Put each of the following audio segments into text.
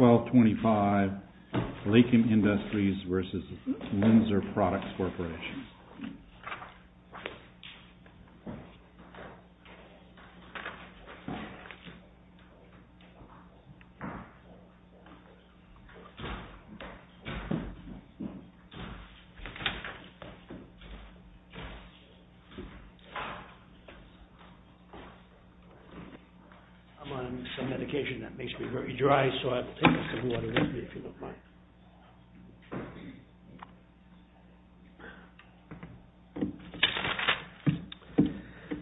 1225 Lakin Industries v. Linzer Products Corporation I'm on some medication that makes me very dry, so I'll take some water with me, if you don't mind.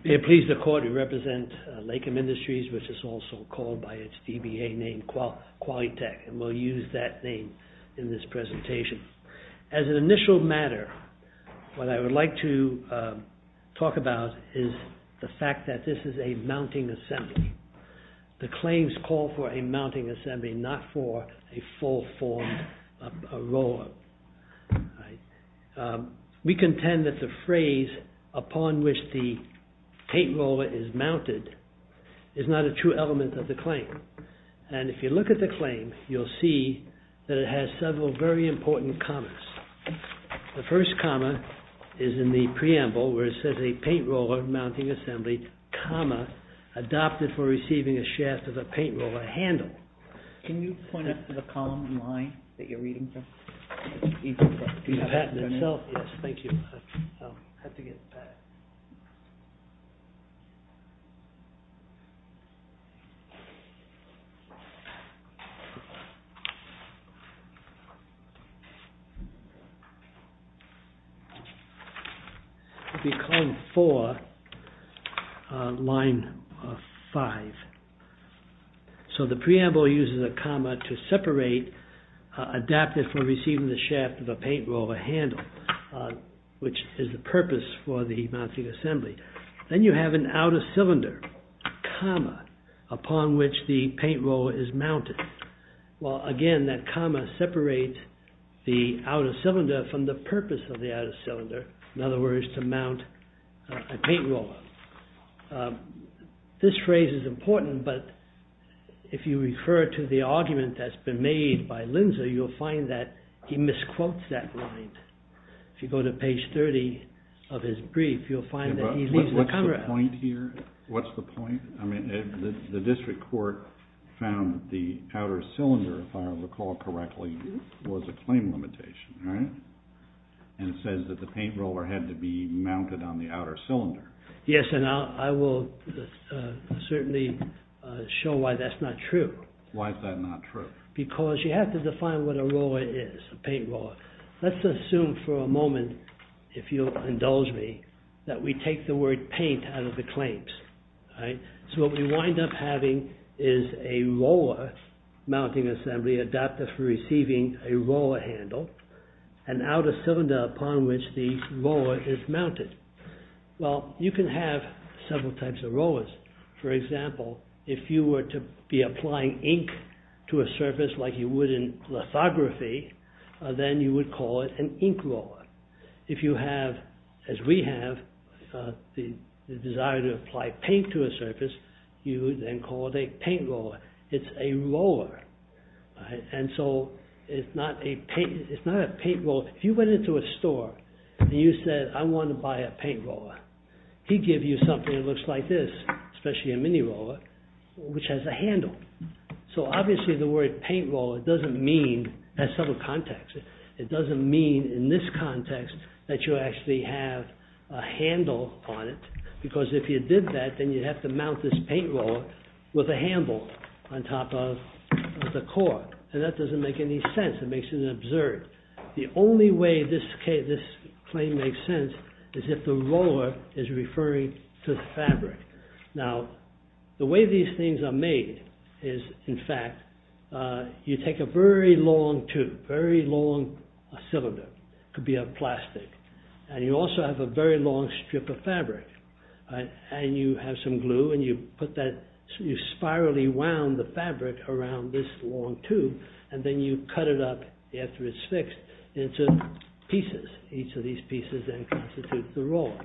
May it please the Court, we represent Lakim Industries, which is also called by its DBA name Qualitech, and we'll use that name in this presentation. As an initial matter, what I would like to talk about is the fact that this is a mounting assembly. The claims call for a mounting assembly, not for a full-formed roller. We contend that the phrase, upon which the paint roller is mounted, is not a true element of the claim. And if you look at the claim, you'll see that it has several very important commas. The first comma is in the preamble, where it says, a paint roller mounting assembly, comma, adopted for receiving a shaft of a paint roller handle. Can you point us to the column and line that you're reading from? Do you have that in itself? Yes, thank you. I'll have to get that. I'll be calling four line five. So, the preamble uses a comma to separate, adopted for receiving the shaft of a paint roller handle, which is the purpose for the mounting assembly. Then you have an outer cylinder, comma, upon which the paint roller is mounted. Well, again, that comma separates the outer cylinder from the purpose of the outer cylinder, in other words, to mount a paint roller. This phrase is important, but if you refer to the argument that's been made by Linzer, you'll find that he misquotes that line. If you go to page 30 of his brief, you'll find that he leaves the comma out. What's the point here? What's the point? I mean, the district court found the outer cylinder, if I recall correctly, was a claim limitation, right? And it says that the paint roller had to be mounted on the outer cylinder. Yes, and I will certainly show why that's not true. Why is that not true? Because you have to define what a roller is, a paint roller. Let's assume for a moment, if you'll indulge me, that we take the word paint out of the claims, right? So, what we wind up having is a roller mounting assembly, adopted for receiving a roller handle, an outer cylinder upon which the roller is mounted. Well, you can have several types of rollers. For example, if you were to be applying ink to a surface like you would in lithography, then you would call it an ink roller. If you have, as we have, the desire to apply paint to a surface, you would then call it a paint roller. It's a roller, and so it's not a paint roller. So, if you went into a store and you said, I want to buy a paint roller. He'd give you something that looks like this, especially a mini roller, which has a handle. So, obviously the word paint roller doesn't mean, in this context, that you actually have a handle on it. Because if you did that, then you'd have to mount this paint roller with a handle on top of the core. And that doesn't make any sense. It makes it absurd. The only way this claim makes sense is if the roller is referring to the fabric. Now, the way these things are made is, in fact, you take a very long tube, a very long cylinder. It could be a plastic. And you also have a very long strip of fabric. And you have some glue, and you put that, you spirally wound the fabric around this long tube. And then you cut it up, after it's fixed, into pieces. Each of these pieces then constitutes the roller.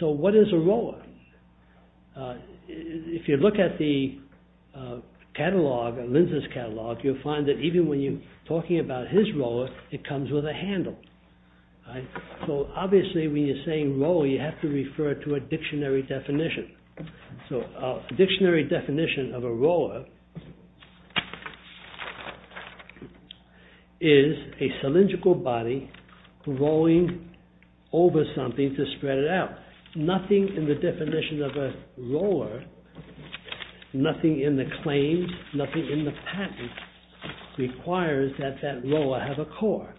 So, what is a roller? If you look at the catalogue, at Linzer's catalogue, you'll find that even when you're talking about his roller, it comes with a handle. So, obviously, when you're saying roller, you have to refer to a dictionary definition. So, a dictionary definition of a roller is a cylindrical body rolling over something to spread it out. Nothing in the definition of a roller, nothing in the claims, nothing in the patent, requires that that roller have a core.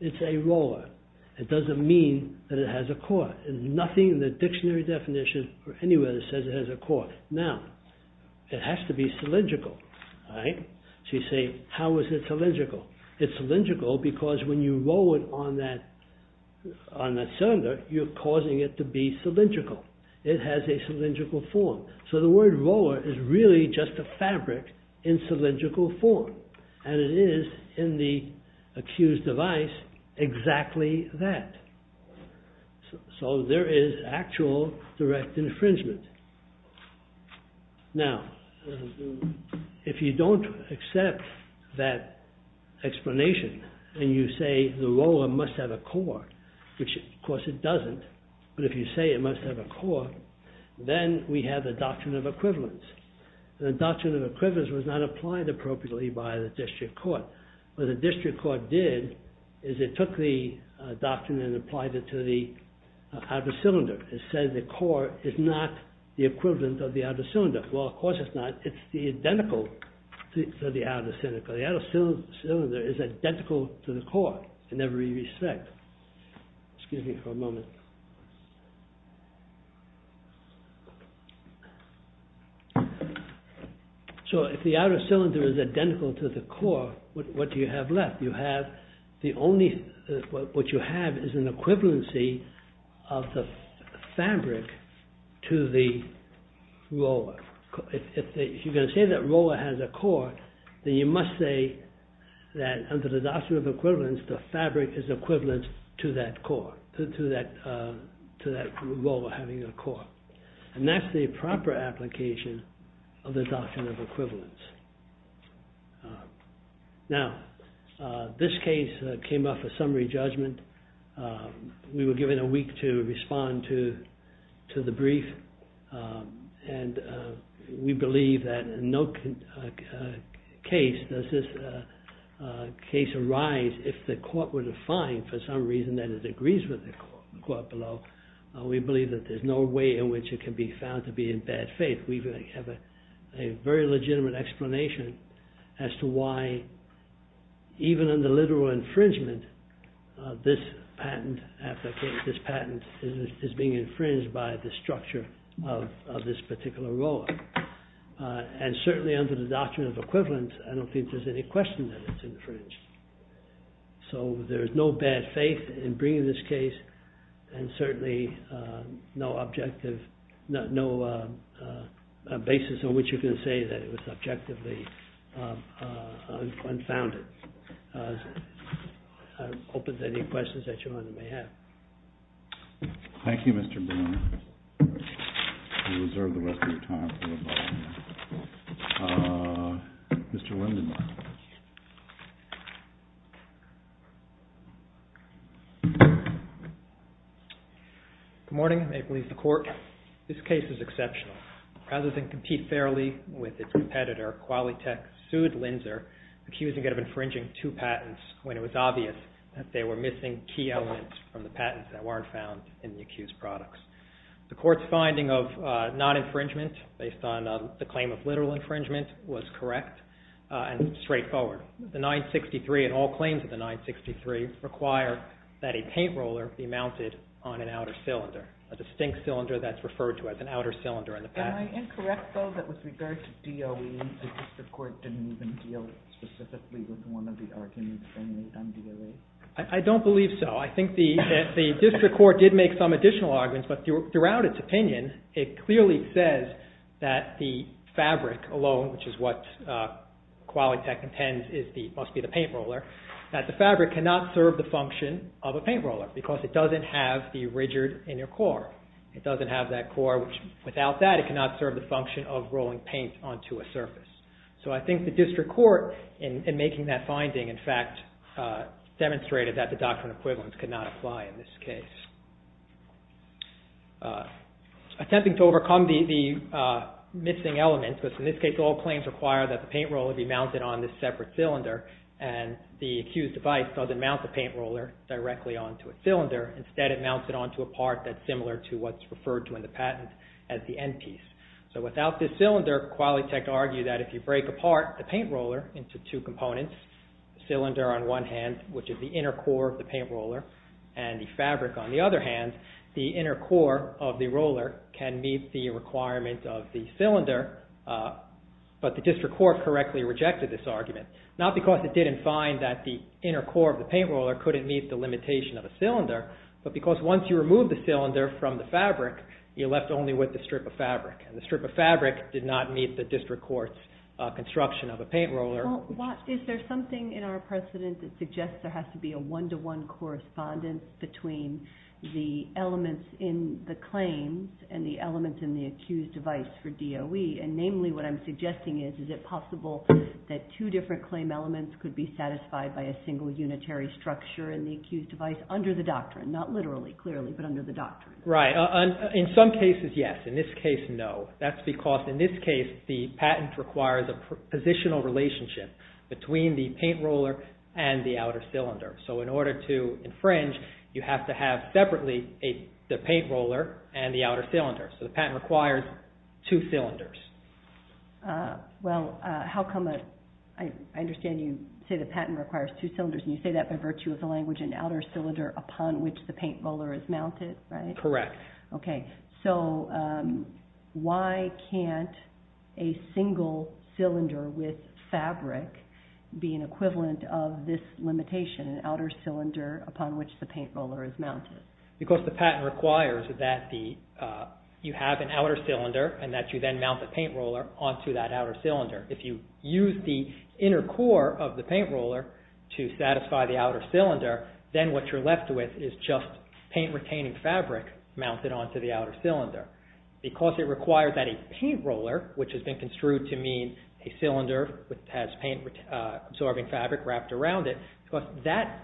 It's a roller. It doesn't mean that it has a core. Nothing in the dictionary definition, or anywhere, says it has a core. Now, it has to be cylindrical. So, you say, how is it cylindrical? It's cylindrical because when you roll it on that cylinder, you're causing it to be cylindrical. It has a cylindrical form. So, the word roller is really just a fabric in cylindrical form. And it is, in the accused device, exactly that. So, there is actual direct infringement. Now, if you don't accept that explanation, and you say the roller must have a core, which, of course, it doesn't, but if you say it must have a core, then we have the doctrine of equivalence. The doctrine of equivalence was not applied appropriately by the district court. What the district court did is it took the doctrine and applied it to the outer cylinder. It said the core is not the equivalent of the outer cylinder. Well, of course it's not. It's the identical to the outer cylinder. The outer cylinder is identical to the core in every respect. Excuse me for a moment. So, if the outer cylinder is identical to the core, what do you have left? You have the only, what you have is an equivalency of the fabric to the roller. If you're going to say that roller has a core, then you must say that under the doctrine of equivalence, the fabric is equivalent to that core, to that roller having a core. And that's the proper application of the doctrine of equivalence. Now, this case came off a summary judgment. We were given a week to respond to the brief, and we believe that in no case does this case arise if the court were to find, for some reason, that it agrees with the court below. We believe that there's no way in which it can be found to be in bad faith. We have a very legitimate explanation as to why, even under literal infringement, this patent is being infringed by the structure of this particular roller. And certainly under the doctrine of equivalence, I don't think there's any question that it's infringed. So there's no bad faith in bringing this case, and certainly no objective, no basis on which you can say that it was objectively unfounded. I hope there's any questions that you may have. Thank you, Mr. Boone. You can reserve the rest of your time. Mr. Lindenmaier. Good morning. May it please the Court. This case is exceptional. Rather than compete fairly with its competitor, Qualitech sued Linzer, accusing it of infringing two patents when it was obvious that they were missing key elements from the patents that weren't found in the accused products. The Court's finding of non-infringement, based on the claim of literal infringement, was correct and straightforward. The 963, and all claims of the 963, require that a paint roller be mounted on an outer cylinder, a distinct cylinder that's referred to as an outer cylinder in the patent. Am I incorrect, though, that with regard to DOE, the District Court didn't even deal specifically with one of the arguments on DOE? I don't believe so. I think the District Court did make some additional arguments, but throughout its opinion, it clearly says that the fabric alone, which is what Qualitech intends must be the paint roller, that the fabric cannot serve the function of a paint roller because it doesn't have the rigid inner core. It doesn't have that core, which without that, it cannot serve the function of rolling paint onto a surface. So I think the District Court, in making that finding, in fact, demonstrated that the doctrine of equivalence could not apply in this case. Attempting to overcome the missing element, because in this case all claims require that the paint roller be mounted on this separate cylinder and the accused device doesn't mount the paint roller directly onto a cylinder. Instead, it mounts it onto a part that's similar to what's referred to in the patent as the end piece. So without this cylinder, Qualitech argued that if you break apart the paint roller into two components, cylinder on one hand, which is the inner core of the paint roller, and the fabric on the other hand, the inner core of the roller can meet the requirement of the cylinder, but the District Court correctly rejected this argument. Not because it didn't find that the inner core of the paint roller couldn't meet the limitation of a cylinder, but because once you remove the cylinder from the fabric, you're left only with the strip of fabric, and the strip of fabric did not meet the District Court's construction of a paint roller. Is there something in our precedent that suggests there has to be a one-to-one correspondence between the elements in the claims and the elements in the accused device for DOE? Namely, what I'm suggesting is, is it possible that two different claim elements could be satisfied by a single unitary structure in the accused device under the doctrine? Not literally, clearly, but under the doctrine. Right. In some cases, yes. In this case, no. That's because in this case, the patent requires a positional relationship between the paint roller and the outer cylinder. So in order to infringe, you have to have separately the paint roller and the outer cylinder. So the patent requires two cylinders. I understand you say the patent requires two cylinders, and you say that by virtue of the language, an outer cylinder upon which the paint roller is mounted, right? Correct. Okay, so why can't a single cylinder with fabric be an equivalent of this limitation, an outer cylinder upon which the paint roller is mounted? Because the patent requires that you have an outer cylinder and that you then mount the paint roller onto that outer cylinder. If you use the inner core of the paint roller to satisfy the outer cylinder, then what you're left with is just paint-retaining fabric mounted onto the outer cylinder. Because it requires that a paint roller, which has been construed to mean a cylinder that has paint-absorbing fabric wrapped around it, that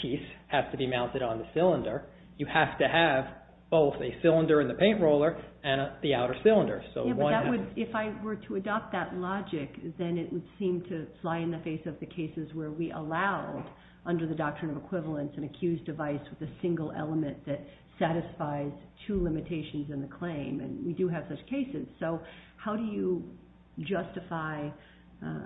piece has to be mounted on the cylinder. You have to have both a cylinder in the paint roller and the outer cylinder. If I were to adopt that logic, then it would seem to fly in the face of the cases where we allowed, under the doctrine of equivalence, an accused device with a single element that satisfies two limitations in the claim, and we do have such cases. So how do you justify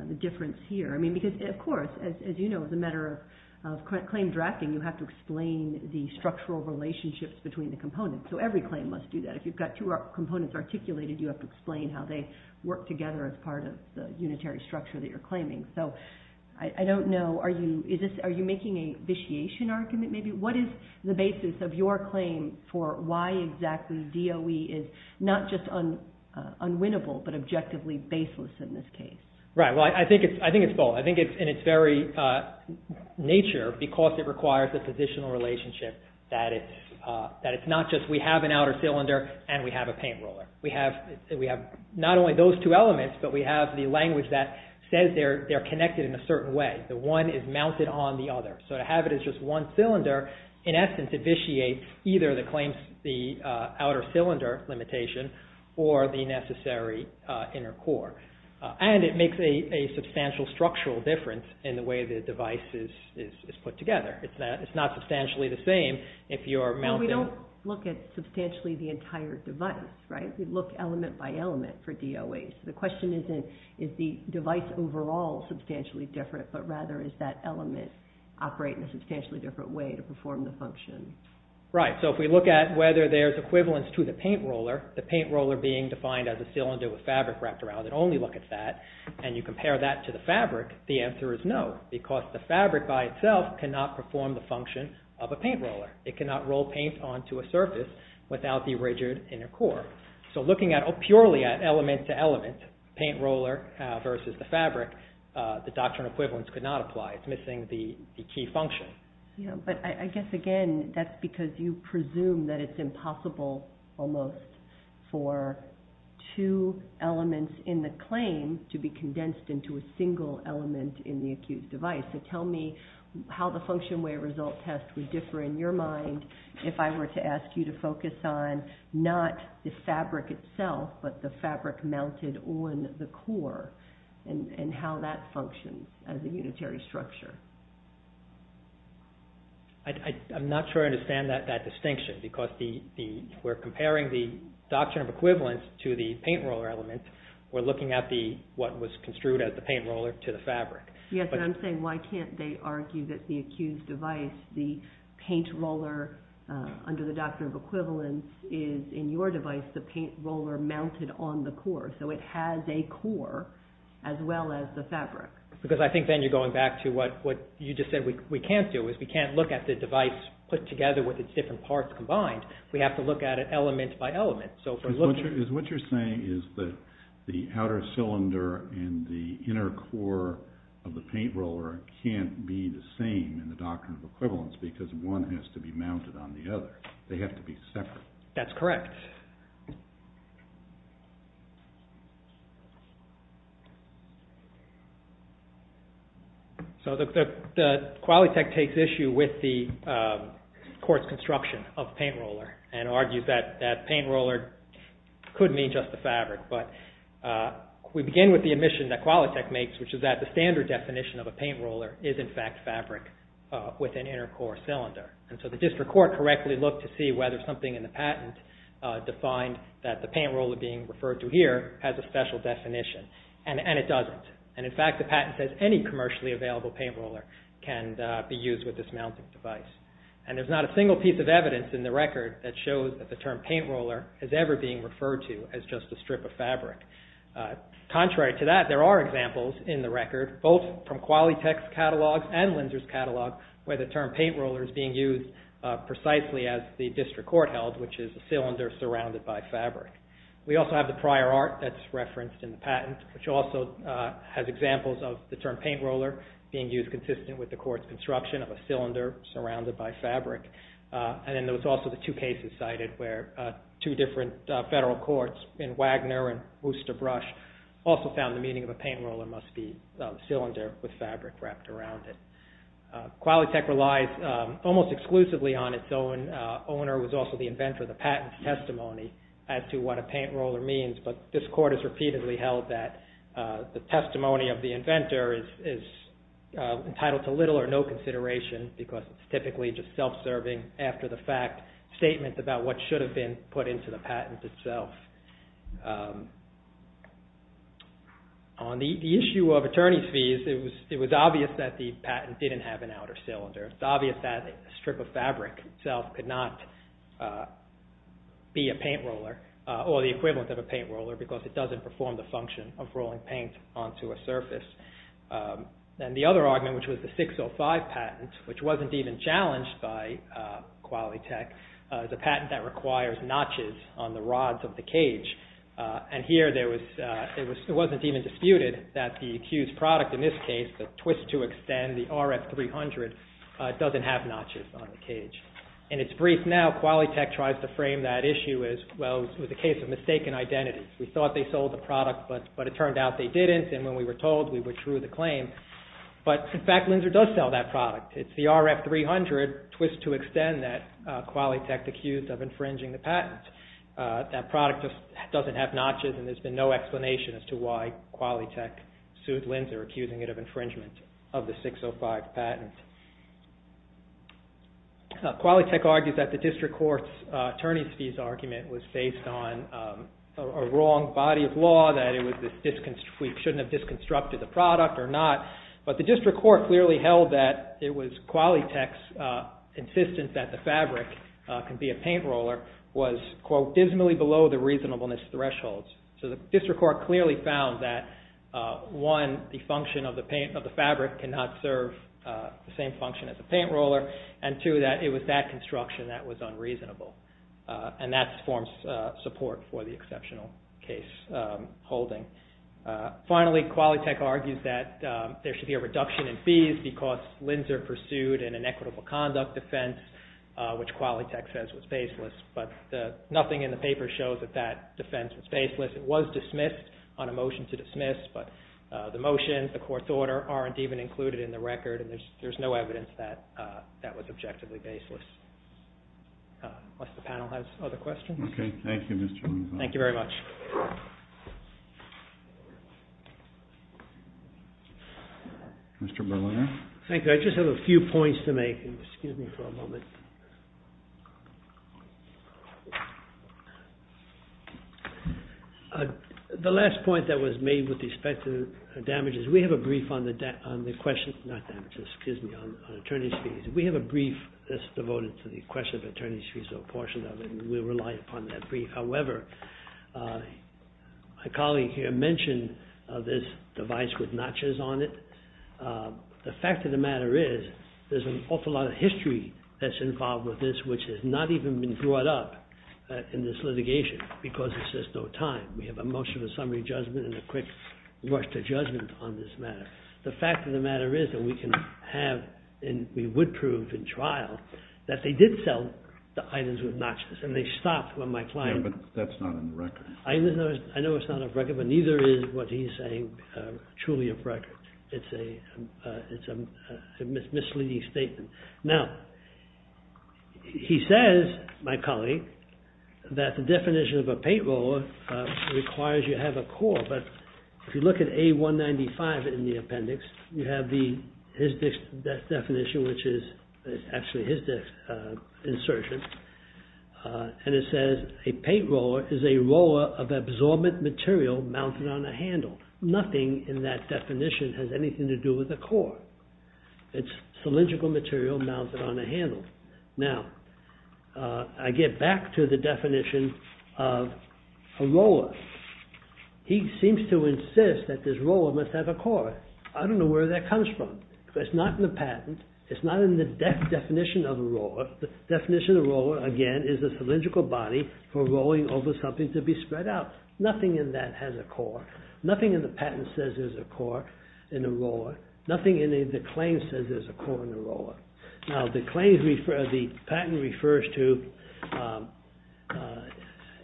the difference here? Because, of course, as you know, as a matter of claim drafting, you have to explain the structural relationships between the components. So every claim must do that. If you've got two components articulated, you have to explain how they work together as part of the unitary structure that you're claiming. So I don't know, are you making a vitiation argument maybe? What is the basis of your claim for why exactly DOE is not just unwinnable, but objectively baseless in this case? Right, well, I think it's both. I think it's in its very nature, because it requires a positional relationship, that it's not just we have an outer cylinder and we have a paint roller. We have not only those two elements, but we have the language that says they're connected in a certain way. The one is mounted on the other. So to have it as just one cylinder, in essence, it vitiates either the claims, the outer cylinder limitation, or the necessary inner core. And it makes a substantial structural difference in the way the device is put together. It's not substantially the same if you're mounting. Well, we don't look at substantially the entire device, right? We look element by element for DOE. So the question isn't, is the device overall substantially different, but rather is that element operating in a substantially different way to perform the function? Right, so if we look at whether there's equivalence to the paint roller, the paint roller being defined as a cylinder with fabric wrapped around it, only look at that, and you compare that to the fabric, the answer is no, because the fabric by itself cannot perform the function of a paint roller. It cannot roll paint onto a surface without the rigid inner core. So looking purely at element to element, paint roller versus the fabric, the doctrinal equivalence could not apply. It's missing the key function. Yeah, but I guess, again, that's because you presume that it's impossible, almost, for two elements in the claim to be condensed into a single element in the accused device. So tell me how the function-way result test would differ in your mind if I were to ask you to focus on not the fabric itself, but the fabric mounted on the core and how that functions as a unitary structure. I'm not sure I understand that distinction, because we're comparing the doctrine of equivalence to the paint roller element. We're looking at what was construed as the paint roller to the fabric. Yes, and I'm saying why can't they argue that the accused device, the paint roller under the doctrine of equivalence, is, in your device, the paint roller mounted on the core. So it has a core as well as the fabric. Because I think then you're going back to what you just said we can't do, is we can't look at the device put together with its different parts combined. We have to look at it element by element. Is what you're saying is that the outer cylinder and the inner core of the paint roller can't be the same in the doctrine of equivalence, because one has to be mounted on the other. They have to be separate. That's correct. So the Qualitech takes issue with the court's construction of paint roller and argues that paint roller could mean just the fabric. But we begin with the admission that Qualitech makes, which is that the standard definition of a paint roller is, in fact, fabric with an inner core cylinder. So the district court correctly looked to see whether something in the patent defined that the paint roller being referred to here has a special definition, and it doesn't. In fact, the patent says any commercially available paint roller can be used with this mounting device. There's not a single piece of evidence in the record that shows that the term paint roller is ever being referred to as just a strip of fabric. Contrary to that, there are examples in the record, both from Qualitech's catalog and Linzer's catalog, where the term paint roller is being used precisely as the district court held, which is a cylinder surrounded by fabric. We also have the prior art that's referenced in the patent, which also has examples of the term paint roller being used consistent with the court's construction of a cylinder surrounded by fabric. And then there was also the two cases cited where two different federal courts in Wagner and Worcester Brush also found the meaning of a paint roller must be cylinder with fabric wrapped around it. Qualitech relies almost exclusively on its own owner who is also the inventor of the patent testimony as to what a paint roller means, but this court has repeatedly held that the testimony of the inventor is entitled to little or no consideration because it's typically just self-serving after-the-fact statements about what should have been put into the patent itself. On the issue of attorney's fees, it was obvious that the patent didn't have an outer cylinder. It's obvious that a strip of fabric itself could not be a paint roller or the equivalent of a paint roller because it doesn't perform the function of rolling paint onto a surface. And the other argument, which was the 605 patent, which wasn't even challenged by Qualitech, is a patent that requires notches on the rods of the cage. And here it wasn't even disputed that the accused product in this case, the twist to extend the RF-300, doesn't have notches on the cage. In its brief now, Qualitech tries to frame that issue as, well, it was a case of mistaken identity. We thought they sold the product, but it turned out they didn't and when we were told, we withdrew the claim. But, in fact, Linzer does sell that product. It's the RF-300 twist to extend that Qualitech accused of infringing the patent. That product just doesn't have notches and there's been no explanation as to why Qualitech sued Linzer accusing it of infringement of the 605 patent. Qualitech argues that the district court's attorney's fees argument was based on a wrong body of law, that we shouldn't have disconstructed the product or not. But the district court clearly held that it was Qualitech's insistence that the fabric could be a paint roller was, quote, dismally below the reasonableness threshold. So the district court clearly found that, one, the function of the fabric cannot serve the same function as a paint roller and, two, that it was that construction that was unreasonable. And that forms support for the exceptional case holding. Finally, Qualitech argues that there should be a reduction in fees because Linzer pursued an inequitable conduct defense, which Qualitech says was baseless. But nothing in the paper shows that that defense was baseless. It was dismissed on a motion to dismiss, but the motion, the court's order, aren't even included in the record and there's no evidence that that was objectively baseless. Unless the panel has other questions. Okay. Thank you, Mr. Linzer. Thank you very much. Mr. Berliner. Thank you. I just have a few points to make. Excuse me for a moment. The last point that was made with respect to damages, we have a brief on the questions, not damages, excuse me, on attorney's fees. We have a brief that's devoted to the question of attorney's fees, so a portion of it will rely upon that brief. However, my colleague here mentioned this device with notches on it. The fact of the matter is there's an awful lot of history that's involved with this, which has not even been brought up in this litigation because there's just no time. We have a motion to summary judgment and a quick rush to judgment on this matter. The fact of the matter is that we can have and we would prove in trial that they did sell the items with notches and they stopped when my client… Yeah, but that's not on the record. I know it's not on the record, but neither is what he's saying truly of record. It's a misleading statement. Now, he says, my colleague, that the definition of a paint roller requires you have a core, but if you look at A195 in the appendix, you have his definition, which is actually his insertion, and it says, a paint roller is a roller of absorbent material mounted on a handle. Nothing in that definition has anything to do with a core. It's cylindrical material mounted on a handle. Now, I get back to the definition of a roller. He seems to insist that this roller must have a core. I don't know where that comes from. It's not in the patent. It's not in the definition of a roller. The definition of a roller, again, is a cylindrical body for rolling over something to be spread out. Nothing in that has a core. Nothing in the patent says there's a core in a roller. Nothing in the claim says there's a core in a roller. Now, the patent refers to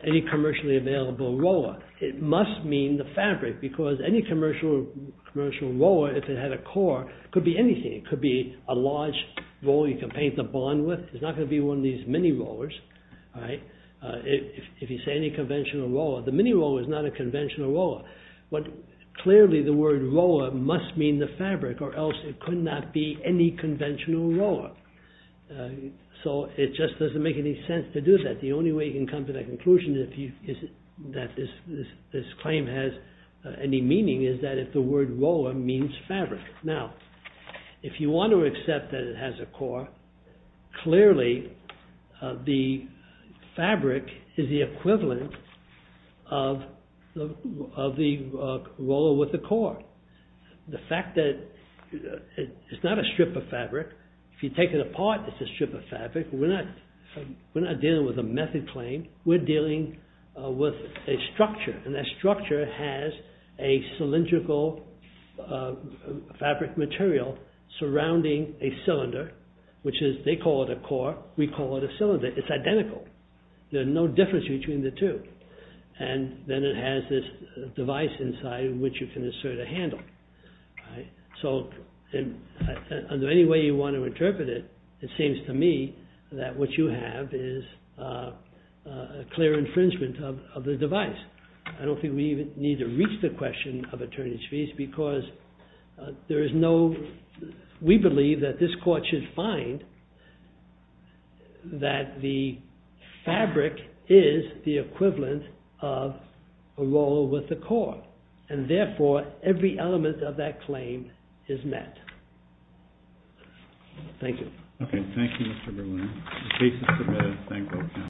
any commercially available roller. It must mean the fabric, because any commercial roller, if it had a core, could be anything. It could be a large roller you can paint the bond with. It's not going to be one of these mini rollers. If you say any conventional roller, the mini roller is not a conventional roller. Clearly, the word roller must mean the fabric, or else it could not be any conventional roller. It just doesn't make any sense to do that. The only way you can come to that conclusion that this claim has any meaning is that if the word roller means fabric. Now, if you want to accept that it has a core, clearly the fabric is the equivalent of the roller with a core. The fact that it's not a strip of fabric, if you take it apart, it's a strip of fabric. We're not dealing with a method claim. We're dealing with a structure, and that structure has a cylindrical fabric material surrounding a cylinder, which they call it a core, we call it a cylinder. It's identical. There's no difference between the two. Then it has this device inside which you can insert a handle. Under any way you want to interpret it, it seems to me that what you have is a clear infringement of the device. I don't think we even need to reach the question of attorney's fees because we believe that this court should find that the fabric is the equivalent of a roller with a core, and therefore every element of that claim is met. Thank you. Okay. Thank you, Mr. Berliner. The case is submitted. Thank you all.